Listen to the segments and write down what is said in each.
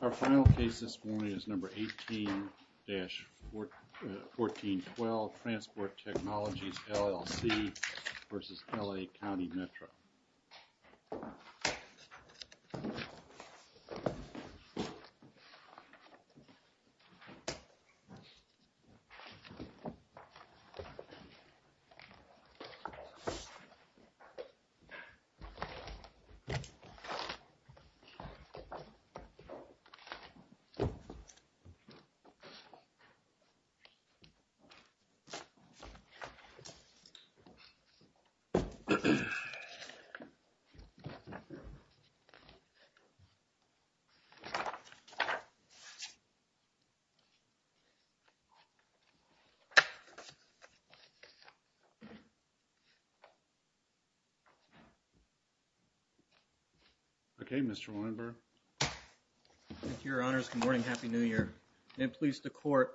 Our final case this morning is number 18-1412, Transport Technologies, LLC v. LA County Metro Our final case this morning is number 18-1412, Transport Technologies, LLC v. LA County Metro Thank you, Your Honors. Good morning. Happy New Year. And please, the Court,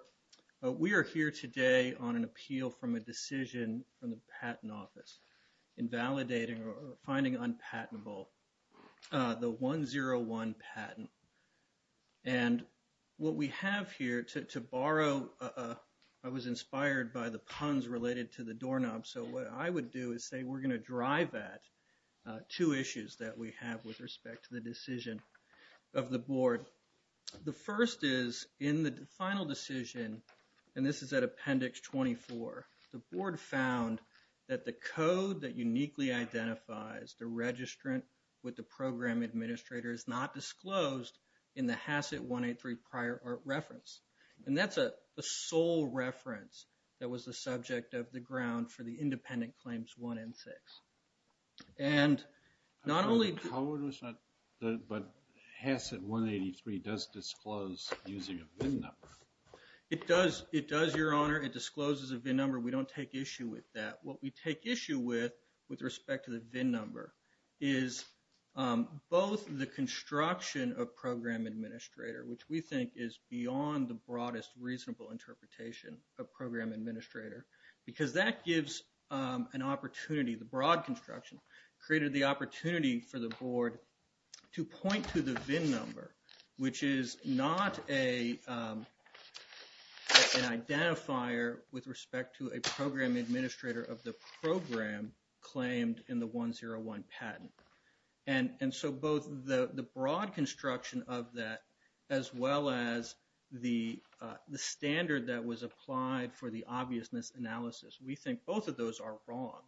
we are here today on an appeal from a decision from the Patent Office in validating or finding unpatentable the 101 patent. And what we have here, to borrow, I was inspired by the puns related to the doorknob, so what I would do is say we're going to drive at two issues that we have with respect to the decision of the Board. The first is, in the final decision, and this is at Appendix 24, the Board found that the code that uniquely identifies the registrant with the program administrator is not disclosed in the HACCIT 183 prior art reference. And that's a sole reference that was the subject of the ground for the independent claims 1 and 6. And not only... But HACCIT 183 does disclose using a VIN number. It does, Your Honor. It discloses a VIN number. We don't take issue with that. What we take issue with, with respect to the VIN number, is both the construction of program administrator, which we think is beyond the broadest reasonable interpretation of program administrator, because that gives an opportunity. The broad construction created the opportunity for the Board to point to the VIN number, which is not an identifier with respect to a program administrator of the program claimed in the 101 patent. And so both the broad construction of that, as well as the standard that was applied for the obviousness analysis, we think both of those are wrong.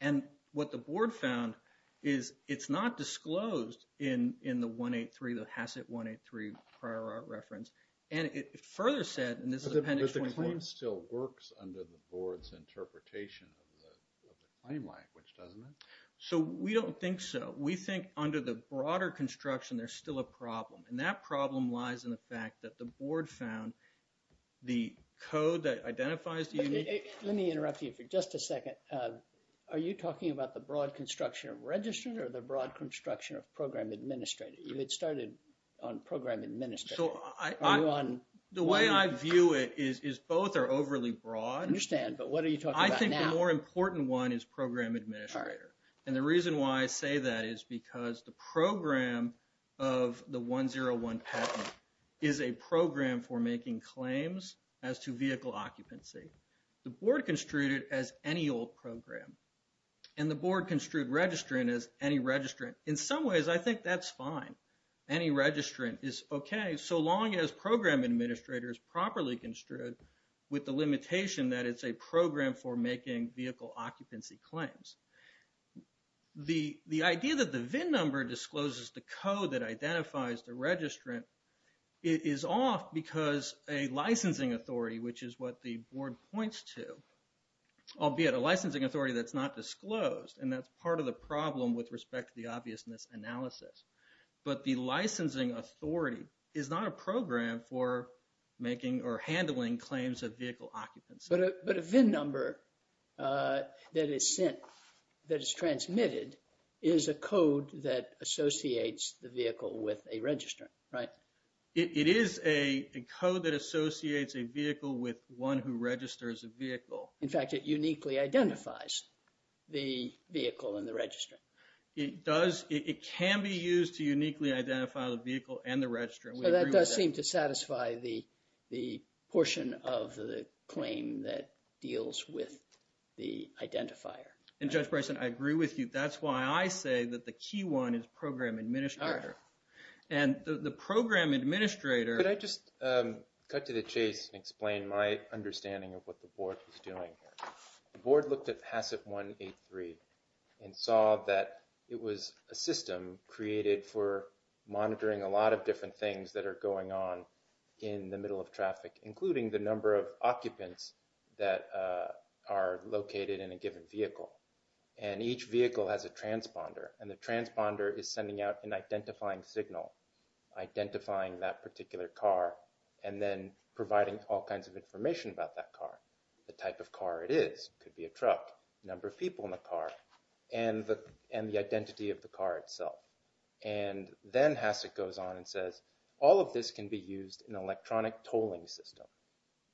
And what the Board found is it's not disclosed in the 183, the HACCIT 183 prior art reference. And it further said, and this is Appendix 24... But the claim still works under the Board's interpretation of the claim language, doesn't it? So we don't think so. We think under the broader construction, there's still a problem. And that problem lies in the fact that the Board found the code that identifies the unique... Let me interrupt you for just a second. Are you talking about the broad construction of registered or the broad construction of program administrator? You had started on program administrator. The way I view it is both are overly broad. I understand, but what are you talking about now? I think the more important one is program administrator. And the reason why I say that is because the program of the 101 patent is a program for making claims as to vehicle occupancy. The Board construed it as any old program. And the Board construed registrant as any registrant. In some ways, I think that's fine. Any registrant is okay so long as program administrator is properly construed with the limitation that it's a program for making vehicle occupancy claims. The idea that the VIN number discloses the code that identifies the registrant is off because a licensing authority, which is what the Board points to, albeit a licensing authority that's not disclosed. And that's part of the problem with respect to the obviousness analysis. But the licensing authority is not a program for making or handling claims of vehicle occupancy. But a VIN number that is sent, that is transmitted, is a code that associates the vehicle with a registrant, right? It is a code that associates a vehicle with one who registers a vehicle. In fact, it uniquely identifies the vehicle and the registrant. It can be used to uniquely identify the vehicle and the registrant. So that does seem to satisfy the portion of the claim that deals with the identifier. And Judge Bryson, I agree with you. That's why I say that the key one is program administrator. And the program administrator— I'll explain my understanding of what the Board is doing here. The Board looked at HACCP 183 and saw that it was a system created for monitoring a lot of different things that are going on in the middle of traffic, including the number of occupants that are located in a given vehicle. And each vehicle has a transponder, and the transponder is sending out an identifying signal, identifying that particular car, and then providing all kinds of information about that car, the type of car it is, could be a truck, number of people in the car, and the identity of the car itself. And then HACCP goes on and says, all of this can be used in an electronic tolling system.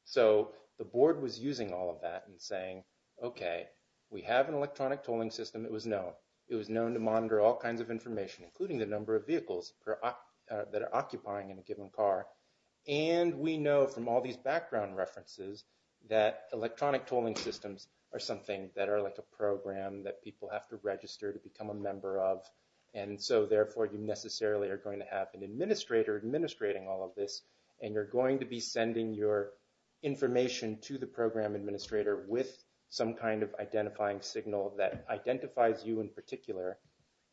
So the Board was using all of that and saying, okay, we have an electronic tolling system. It was known. It was known to monitor all kinds of information, including the number of vehicles that are occupying in a given car. And we know from all these background references that electronic tolling systems are something that are like a program that people have to register to become a member of. And so, therefore, you necessarily are going to have an administrator administrating all of this, and you're going to be sending your information to the program administrator with some kind of identifying signal that identifies you in particular.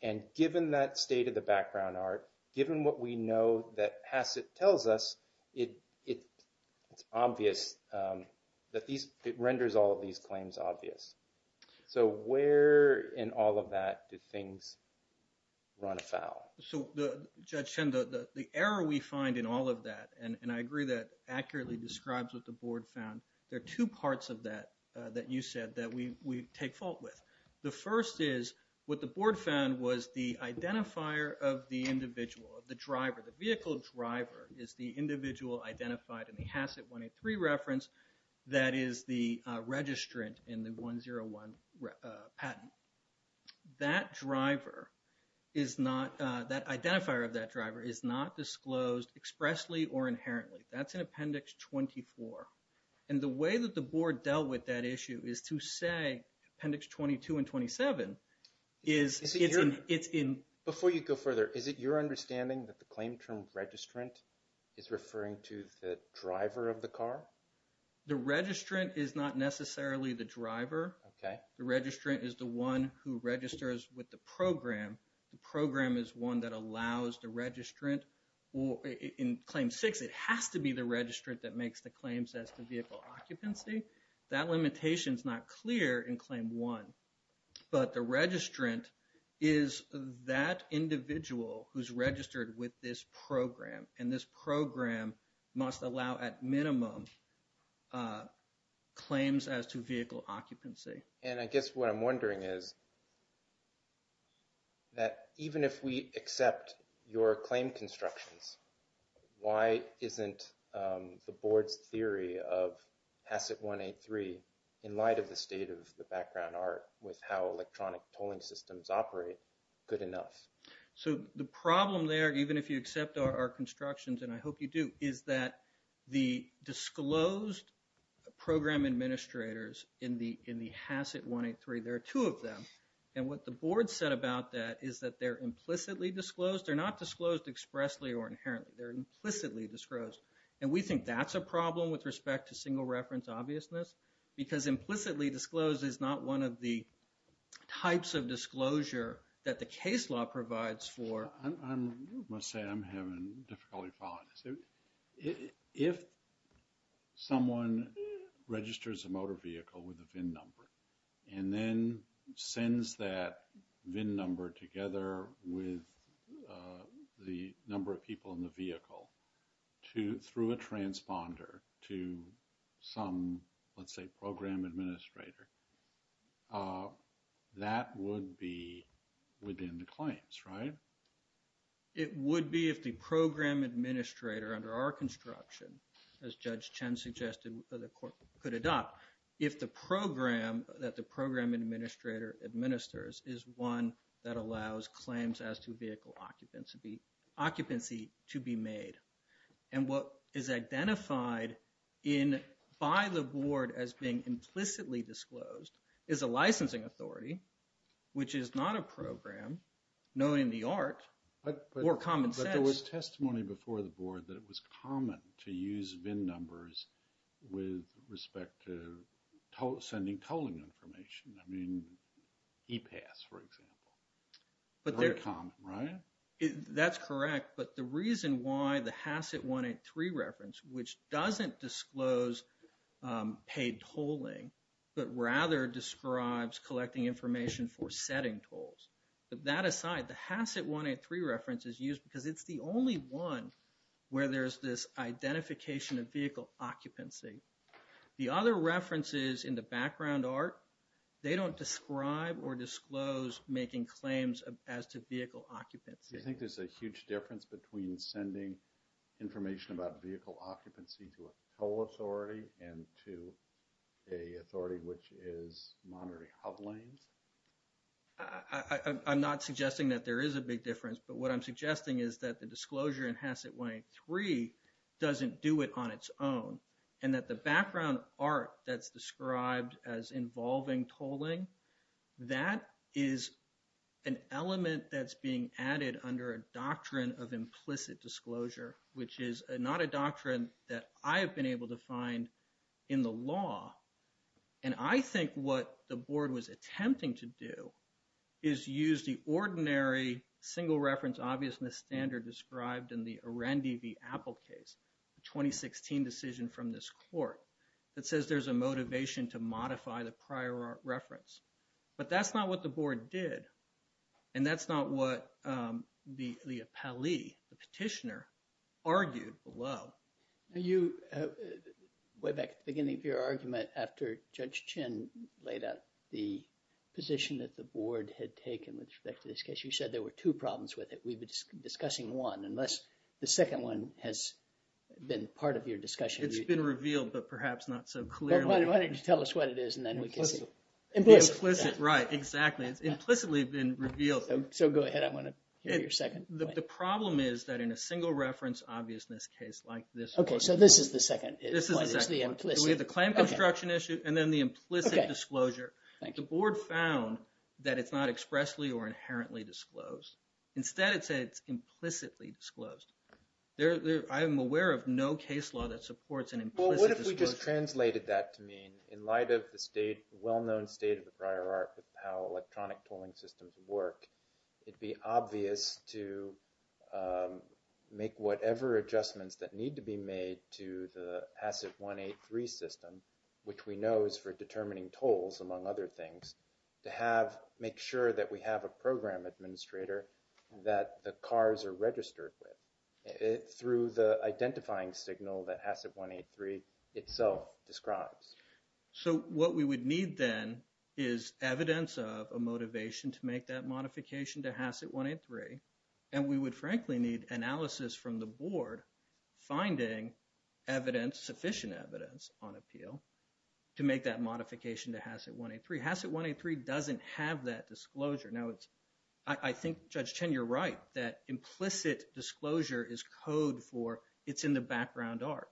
And given that state of the background art, given what we know that HACCP tells us, it's obvious that these, it renders all of these claims obvious. So where in all of that do things run afoul? So, Judge Shen, the error we find in all of that, and I agree that accurately describes what the Board found, there are two parts of that that you said that we take fault with. The first is what the Board found was the identifier of the individual, of the driver. The vehicle driver is the individual identified in the HACCP 183 reference that is the registrant in the 101 patent. That driver is not, that identifier of that driver is not disclosed expressly or inherently. That's in Appendix 24. And the way that the Board dealt with that issue is to say, Appendix 22 and 27, is it's in... Before you go further, is it your understanding that the claim term registrant is referring to the driver of the car? The registrant is not necessarily the driver. The registrant is the one who registers with the program. The program is one that allows the registrant. In Claim 6, it has to be the registrant that makes the claims as to vehicle occupancy. That limitation is not clear in Claim 1. But the registrant is that individual who's registered with this program. And this program must allow at minimum claims as to vehicle occupancy. And I guess what I'm wondering is that even if we accept your claim constructions, why isn't the Board's theory of HACCP 183, in light of the state of the background art with how electronic tolling systems operate, good enough? So the problem there, even if you accept our constructions, and I hope you do, is that the disclosed program administrators in the HACCP 183, there are two of them. And what the Board said about that is that they're implicitly disclosed. They're not disclosed expressly or inherently. They're implicitly disclosed. And we think that's a problem with respect to single reference obviousness. Because implicitly disclosed is not one of the types of disclosure that the case law provides for. I must say I'm having difficulty following this. If someone registers a motor vehicle with a VIN number, and then sends that VIN number together with the number of people in the vehicle, through a transponder to some, let's say, program administrator, that would be within the claims, right? It would be if the program administrator under our construction, as Judge Chen suggested, could adopt if the program that the program administrator administers is one that allows claims as to vehicle occupancy to be made. And what is identified by the Board as being implicitly disclosed is a licensing authority, which is not a program known in the art or common sense. There was testimony before the Board that it was common to use VIN numbers with respect to sending tolling information. I mean, e-pass, for example. Very common, right? That's correct. But the reason why the HACCIT 183 reference, which doesn't disclose paid tolling, but rather describes collecting information for setting tolls. But that aside, the HACCIT 183 reference is used because it's the only one where there's this identification of vehicle occupancy. The other references in the background art, they don't describe or disclose making claims as to vehicle occupancy. Do you think there's a huge difference between sending information about vehicle occupancy to a toll authority and to an authority which is monitoring hub lanes? I'm not suggesting that there is a big difference, but what I'm suggesting is that the disclosure in HACCIT 183 doesn't do it on its own. And that the background art that's described as involving tolling, that is an element that's being added under a doctrine of implicit disclosure, which is not a doctrine that I have been able to find in the law. And I think what the board was attempting to do is use the ordinary single reference obviousness standard described in the Arendi v. Apple case, the 2016 decision from this court that says there's a motivation to modify the prior reference. But that's not what the board did. And that's not what the appellee, the petitioner, argued below. You, way back at the beginning of your argument after Judge Chin laid out the position that the board had taken with respect to this case, you said there were two problems with it. We've been discussing one, unless the second one has been part of your discussion. It's been revealed, but perhaps not so clearly. Why don't you tell us what it is and then we can see. Implicit. Implicit, right, exactly. It's implicitly been revealed. So go ahead. I want to hear your second point. The problem is that in a single reference obviousness case like this. Okay, so this is the second. This is the second. It's the implicit. We have the claim construction issue and then the implicit disclosure. The board found that it's not expressly or inherently disclosed. Instead, it said it's implicitly disclosed. I am aware of no case law that supports an implicit disclosure. If we just translated that to mean in light of the well-known state of the prior art of how electronic tolling systems work, it would be obvious to make whatever adjustments that need to be made to the HACCP 183 system, which we know is for determining tolls, among other things, to make sure that we have a program administrator that the cars are registered with. Through the identifying signal that HACCP 183 itself describes. So what we would need then is evidence of a motivation to make that modification to HACCP 183, and we would frankly need analysis from the board finding sufficient evidence on appeal to make that modification to HACCP 183. HACCP 183 doesn't have that disclosure. Now, I think, Judge Chen, you're right that implicit disclosure is code for it's in the background art.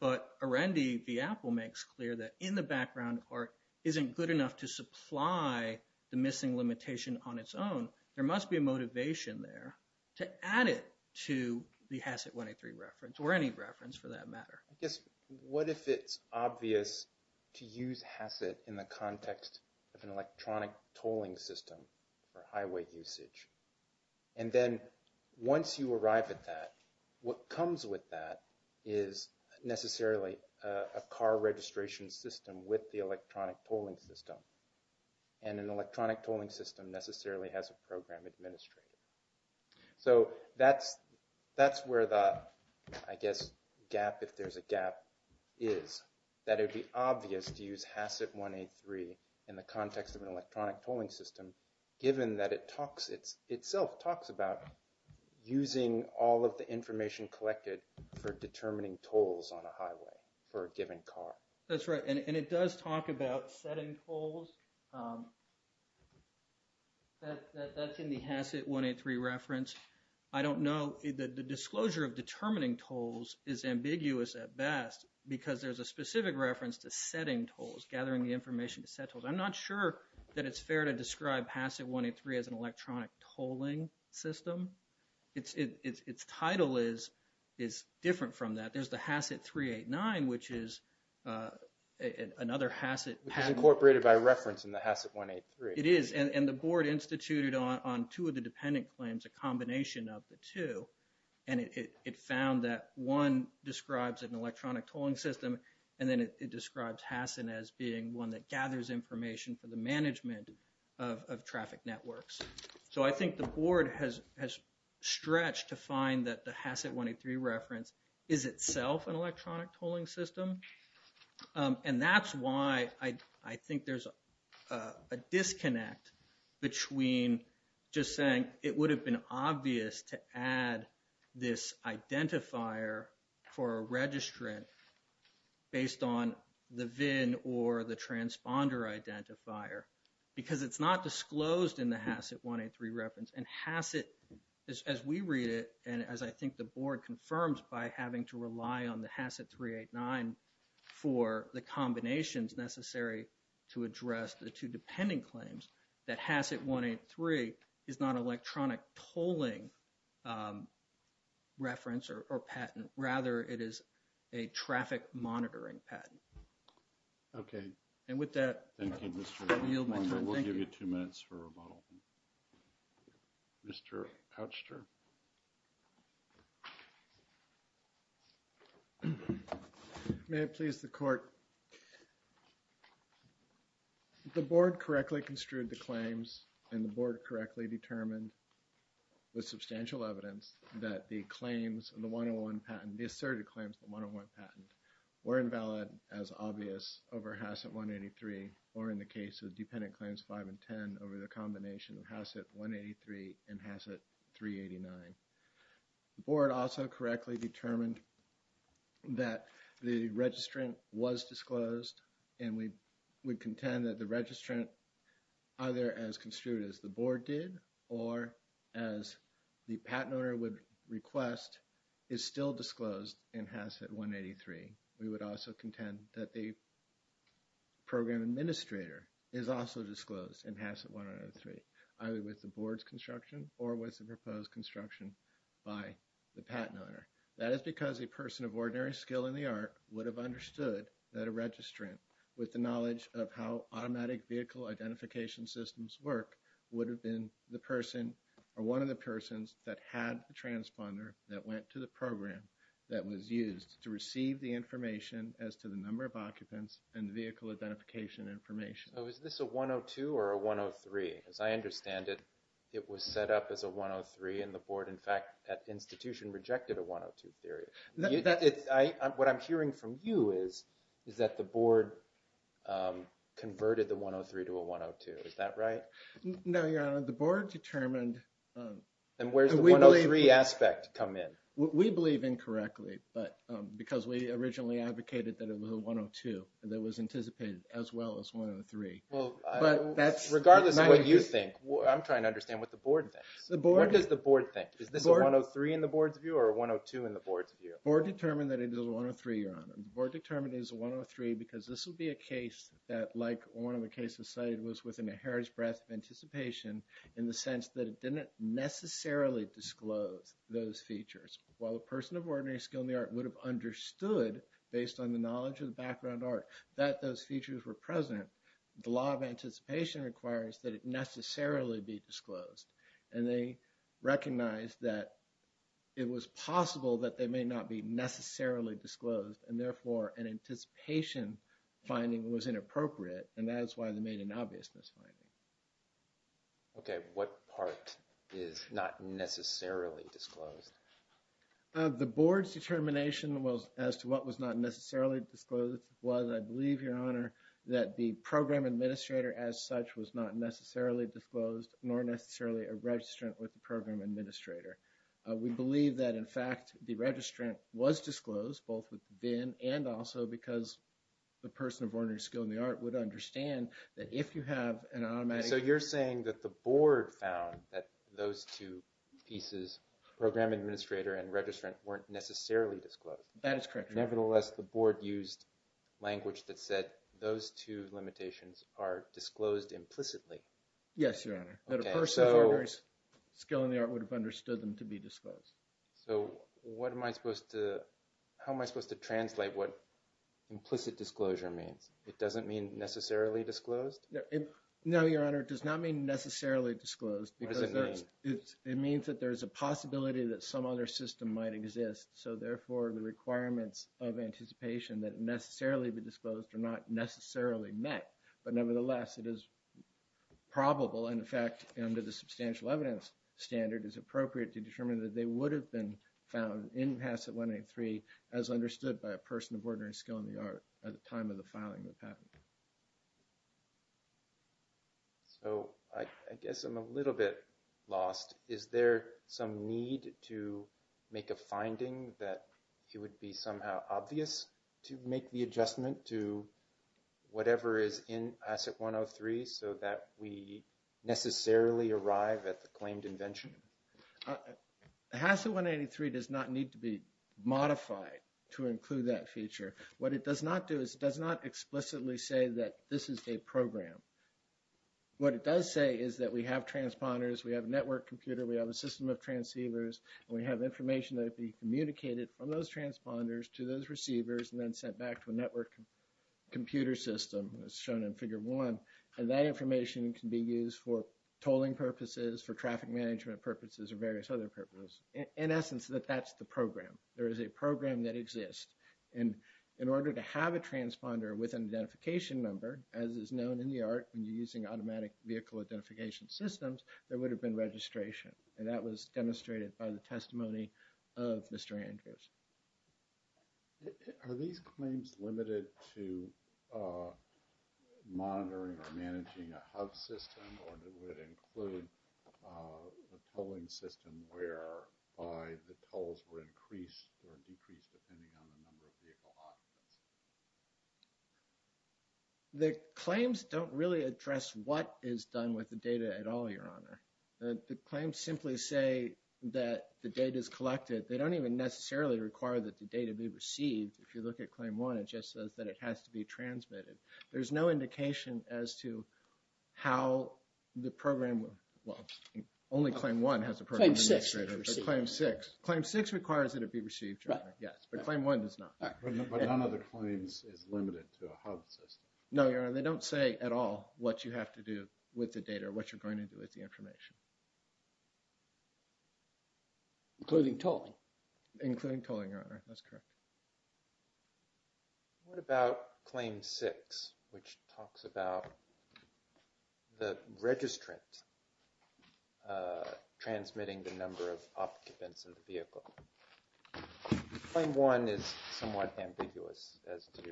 But Arendi v. Apple makes clear that in the background art isn't good enough to supply the missing limitation on its own. There must be a motivation there to add it to the HACCP 183 reference or any reference for that matter. I guess, what if it's obvious to use HACCP in the context of an electronic tolling system for highway usage? And then once you arrive at that, what comes with that is necessarily a car registration system with the electronic tolling system. And an electronic tolling system necessarily has a program administrator. So that's where the, I guess, gap, if there's a gap, is that it would be obvious to use HACCP 183 in the context of an electronic tolling system, given that it talks – itself talks about using all of the information collected for determining tolls on a highway for a given car. That's right. And it does talk about setting tolls. That's in the HACCP 183 reference. I don't know – the disclosure of determining tolls is ambiguous at best because there's a specific reference to setting tolls, gathering the information to set tolls. I'm not sure that it's fair to describe HACCP 183 as an electronic tolling system. Its title is different from that. There's the HACCP 389, which is another HACCP – Which is incorporated by reference in the HACCP 183. It is. And the board instituted on two of the dependent claims a combination of the two. And it found that one describes an electronic tolling system, and then it describes HACCP as being one that gathers information for the management of traffic networks. So I think the board has stretched to find that the HACCP 183 reference is itself an electronic tolling system. And that's why I think there's a disconnect between just saying it would have been obvious to add this identifier for a registrant based on the VIN or the transponder identifier. Because it's not disclosed in the HACCP 183 reference. And HACCP, as we read it, and as I think the board confirms by having to rely on the HACCP 389 for the combinations necessary to address the two dependent claims, that HACCP 183 is not an electronic tolling reference or patent. Rather, it is a traffic monitoring patent. Okay. And with that, I yield my time. Thank you. We'll give you two minutes for rebuttal. Mr. Pouchter. May it please the court. The board correctly construed the claims and the board correctly determined with substantial evidence that the claims in the 101 patent, the asserted claims in the 101 patent were invalid as obvious over HACCP 183 or in the case of dependent claims 5 and 10 over the combination of HACCP 183 and HACCP 389. The board also correctly determined that the registrant was disclosed. And we would contend that the registrant either as construed as the board did or as the patent owner would request is still disclosed in HACCP 183. We would also contend that the program administrator is also disclosed in HACCP 183, either with the board's construction or with the proposed construction by the patent owner. That is because a person of ordinary skill in the art would have understood that a registrant with the knowledge of how automatic vehicle identification systems work would have been the person or one of the persons that had the transponder that went to the program that was used to receive the information. As to the number of occupants and vehicle identification information. So is this a 102 or a 103? As I understand it, it was set up as a 103 and the board, in fact, that institution rejected a 102 theory. What I'm hearing from you is, is that the board converted the 103 to a 102, is that right? No, Your Honor, the board determined. And where's the 103 aspect come in? We believe incorrectly, but because we originally advocated that it was a 102 that was anticipated as well as 103. Regardless of what you think, I'm trying to understand what the board thinks. What does the board think? Is this a 103 in the board's view or a 102 in the board's view? The board determined that it is a 103, Your Honor. The board determined it was a 103 because this would be a case that, like one of the cases cited, was within a heritage breadth of anticipation in the sense that it didn't necessarily disclose those features. While a person of ordinary skill in the art would have understood, based on the knowledge of the background art, that those features were present, the law of anticipation requires that it necessarily be disclosed. And they recognized that it was possible that they may not be necessarily disclosed, and therefore an anticipation finding was inappropriate, and that is why they made an obvious mis-finding. Okay, what part is not necessarily disclosed? The board's determination as to what was not necessarily disclosed was, I believe, Your Honor, that the program administrator as such was not necessarily disclosed, nor necessarily a registrant with the program administrator. We believe that, in fact, the registrant was disclosed, both within and also because the person of ordinary skill in the art would understand that if you have an automatic… weren't necessarily disclosed. That is correct, Your Honor. Nevertheless, the board used language that said those two limitations are disclosed implicitly. Yes, Your Honor, that a person of ordinary skill in the art would have understood them to be disclosed. So what am I supposed to – how am I supposed to translate what implicit disclosure means? It doesn't mean necessarily disclosed? No, Your Honor, it does not mean necessarily disclosed. It doesn't mean? It means that there is a possibility that some other system might exist, so therefore the requirements of anticipation that necessarily be disclosed are not necessarily met. But nevertheless, it is probable, and in fact, under the substantial evidence standard, it is appropriate to determine that they would have been found in Passport 183 as understood by a person of ordinary skill in the art at the time of the filing of the patent. So I guess I'm a little bit lost. Is there some need to make a finding that it would be somehow obvious to make the adjustment to whatever is in HACCP 103 so that we necessarily arrive at the claimed invention? HACCP 183 does not need to be modified to include that feature. What it does not do is it does not explicitly say that this is a program. What it does say is that we have transponders, we have a network computer, we have a system of transceivers, and we have information that would be communicated from those transponders to those receivers and then sent back to a network computer system, as shown in Figure 1. And that information can be used for tolling purposes, for traffic management purposes, or various other purposes. In essence, that that's the program. There is a program that exists. And in order to have a transponder with an identification number, as is known in the art when you're using automatic vehicle identification systems, there would have been registration. And that was demonstrated by the testimony of Mr. Andrews. Are these claims limited to monitoring or managing a hub system, or would it include a tolling system where the tolls were increased or decreased depending on the number of vehicle occupants? The claims don't really address what is done with the data at all, Your Honor. The claims simply say that the data is collected. They don't even necessarily require that the data be received. If you look at Claim 1, it just says that it has to be transmitted. There's no indication as to how the program, well, only Claim 1 has a program. Claim 6. Claim 6. Claim 6 requires that it be received, Your Honor. Yes, but Claim 1 does not. But none of the claims is limited to a hub system. No, Your Honor. They don't say at all what you have to do with the data or what you're going to do with the information. Including tolling? Including tolling, Your Honor. That's correct. What about Claim 6, which talks about the registrant transmitting the number of occupants in the vehicle? Claim 1 is somewhat ambiguous as to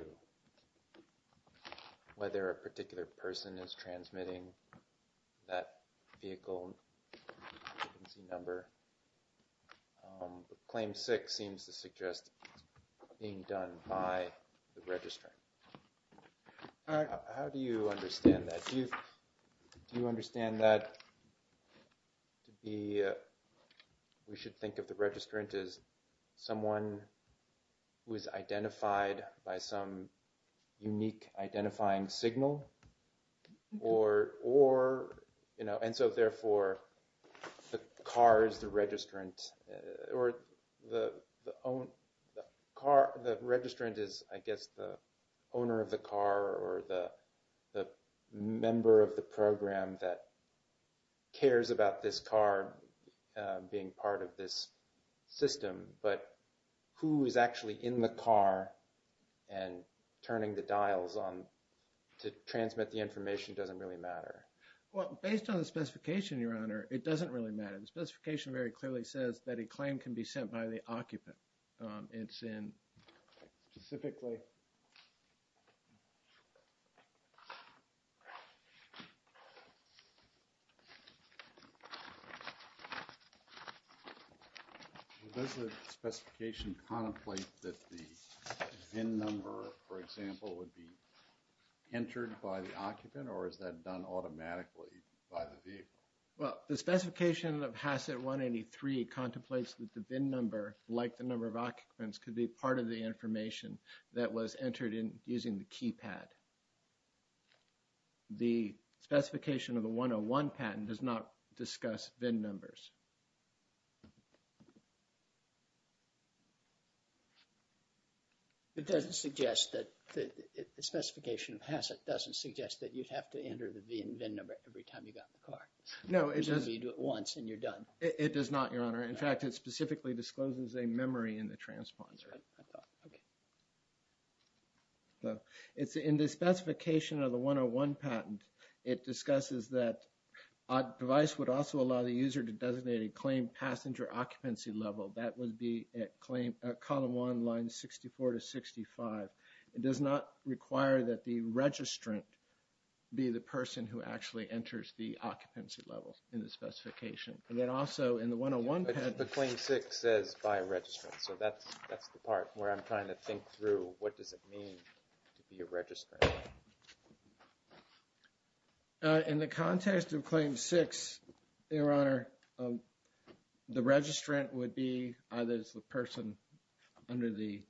whether a particular person is transmitting that vehicle number. Claim 6 seems to suggest it's being done by the registrant. How do you understand that? Do you understand that we should think of the registrant as someone who is identified by some unique identifying signal? Or, you know, and so, therefore, the car is the registrant. Or the car, the registrant is, I guess, the owner of the car or the member of the program that cares about this car being part of this system. But who is actually in the car and turning the dials on to transmit the information doesn't really matter. Well, based on the specification, Your Honor, it doesn't really matter. The specification very clearly says that a claim can be sent by the occupant. It's in specifically... Does the specification contemplate that the VIN number, for example, would be entered by the occupant or is that done automatically by the vehicle? Well, the specification of HACCIT 183 contemplates that the VIN number, like the number of occupants, could be part of the information that was entered in using the keypad. The specification of the 101 patent does not discuss VIN numbers. It doesn't suggest that the specification of HACCIT doesn't suggest that you'd have to enter the VIN number every time you got in the car. No, it doesn't. You do it once and you're done. It does not, Your Honor. In fact, it specifically discloses a memory in the transponder. That's right. Okay. It's in the specification of the 101 patent. It discusses that a device would also allow the user to designate a claim passenger occupancy level. That would be at column one, line 64 to 65. It does not require that the registrant be the person who actually enters the occupancy level in the specification. And then also in the 101 patent... The Claim 6 says by registrant, so that's the part where I'm trying to think through what does it mean to be a registrant. In the context of Claim 6, Your Honor, the registrant would be either the person under the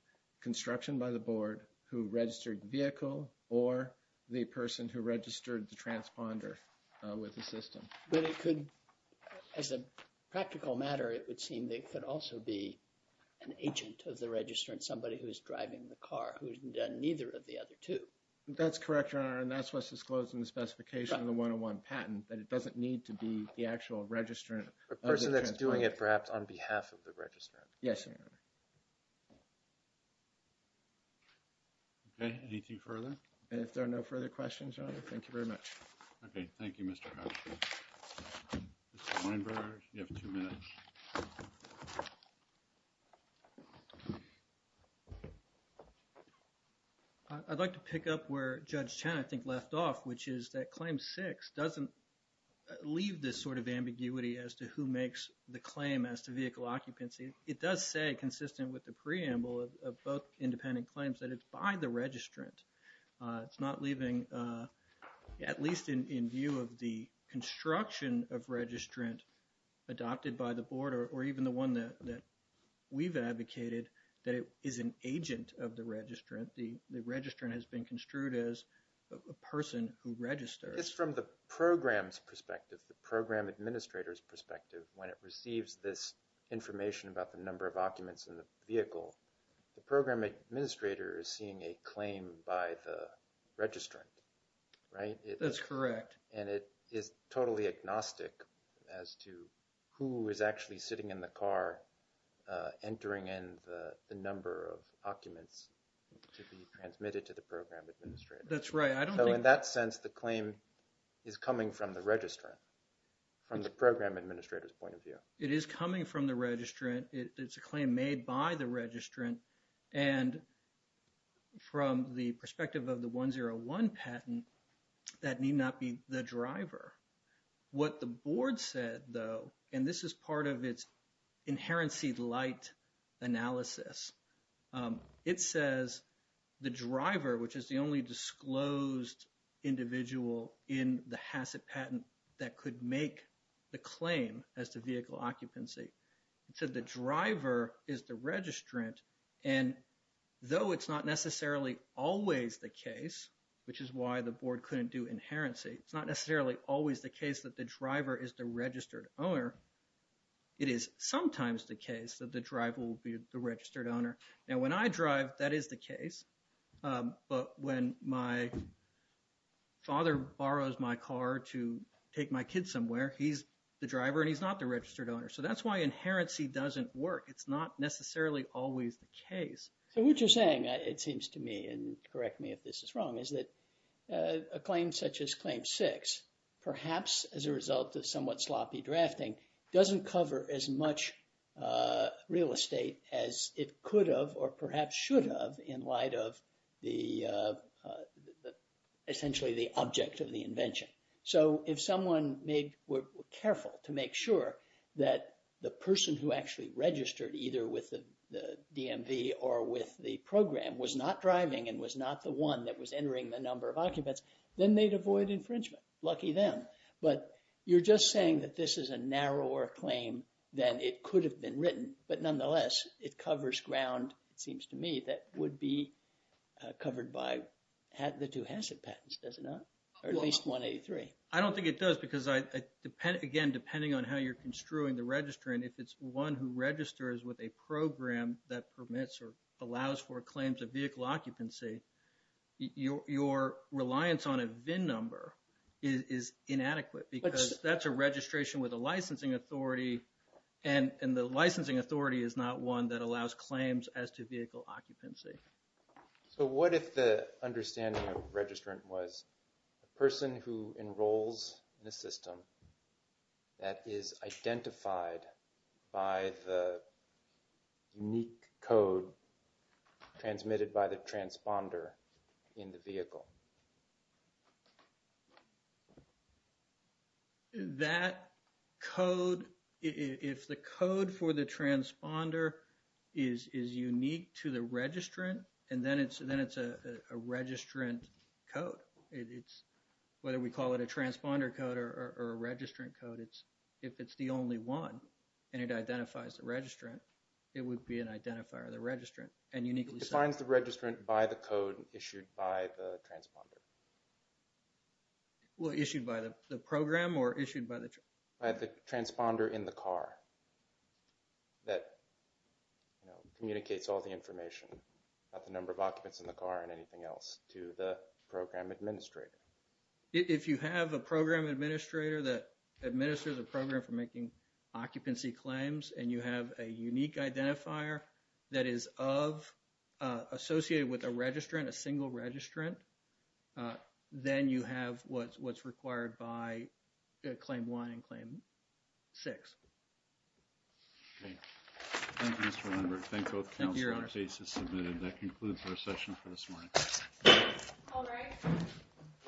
construction by the board who registered vehicle or the person who registered the transponder with the system. But it could, as a practical matter, it would seem that it could also be an agent of the registrant, somebody who's driving the car, who's done neither of the other two. That's correct, Your Honor, and that's what's disclosed in the specification of the 101 patent, that it doesn't need to be the actual registrant. The person that's doing it perhaps on behalf of the registrant. Yes, Your Honor. Okay, anything further? If there are no further questions, Your Honor, thank you very much. Okay, thank you, Mr. Hatcher. Mr. Weinberg, you have two minutes. I'd like to pick up where Judge Chen I think left off, which is that Claim 6 doesn't leave this sort of ambiguity as to who makes the claim as to vehicle occupancy. It does say, consistent with the preamble of both independent claims, that it's by the registrant. It's not leaving, at least in view of the construction of registrant adopted by the Board or even the one that we've advocated, that it is an agent of the registrant. The registrant has been construed as a person who registers. It's from the program's perspective, the program administrator's perspective, when it receives this information about the number of occupants in the vehicle, the program administrator is seeing a claim by the registrant, right? That's correct. And it is totally agnostic as to who is actually sitting in the car entering in the number of occupants to be transmitted to the program administrator. That's right. So in that sense, the claim is coming from the registrant, from the program administrator's point of view. It is coming from the registrant. It's a claim made by the registrant. And from the perspective of the 101 patent, that need not be the driver. What the Board said, though, and this is part of its inherency light analysis, it says the driver, which is the only disclosed individual in the HACCP patent that could make the claim as to vehicle occupancy. It said the driver is the registrant. And though it's not necessarily always the case, which is why the Board couldn't do inherency, it's not necessarily always the case that the driver is the registered owner. It is sometimes the case that the driver will be the registered owner. Now, when I drive, that is the case. But when my father borrows my car to take my kids somewhere, he's the driver and he's not the registered owner. So that's why inherency doesn't work. It's not necessarily always the case. So what you're saying, it seems to me, and correct me if this is wrong, is that a claim such as Claim 6, perhaps as a result of somewhat sloppy drafting, doesn't cover as much real estate as it could have or perhaps should have in light of essentially the object of the invention. So if someone were careful to make sure that the person who actually registered either with the DMV or with the program was not driving and was not the one that was entering the number of occupants, then they'd avoid infringement. Lucky them. But you're just saying that this is a narrower claim than it could have been written. But nonetheless, it covers ground, it seems to me, that would be covered by the two HACCP patents, does it not? Or at least 183. I don't think it does because, again, depending on how you're construing the registrant, if it's one who registers with a program that permits or allows for claims of vehicle occupancy, your reliance on a VIN number is inadequate because that's a registration with a licensing authority. And the licensing authority is not one that allows claims as to vehicle occupancy. So what if the understanding of registrant was a person who enrolls in a system that is identified by the unique code transmitted by the transponder in the vehicle? That code, if the code for the transponder is unique to the registrant, and then it's a registrant code, whether we call it a transponder code or a registrant code, if it's the only one and it identifies the registrant, it would be an identifier of the registrant. It defines the registrant by the code issued by the transponder. Well, issued by the program or issued by the transponder? By the transponder in the car that communicates all the information about the number of occupants in the car and anything else to the program administrator. If you have a program administrator that administers a program for making occupancy claims and you have a unique identifier that is associated with a registrant, a single registrant, then you have what's required by claim one and claim six. Thank you, Mr. Lindberg. Thank both counsel. The case is submitted. That concludes our session for this morning. All rise. The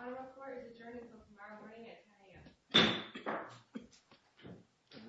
honorable court is adjourned until tomorrow morning at 10 a.m.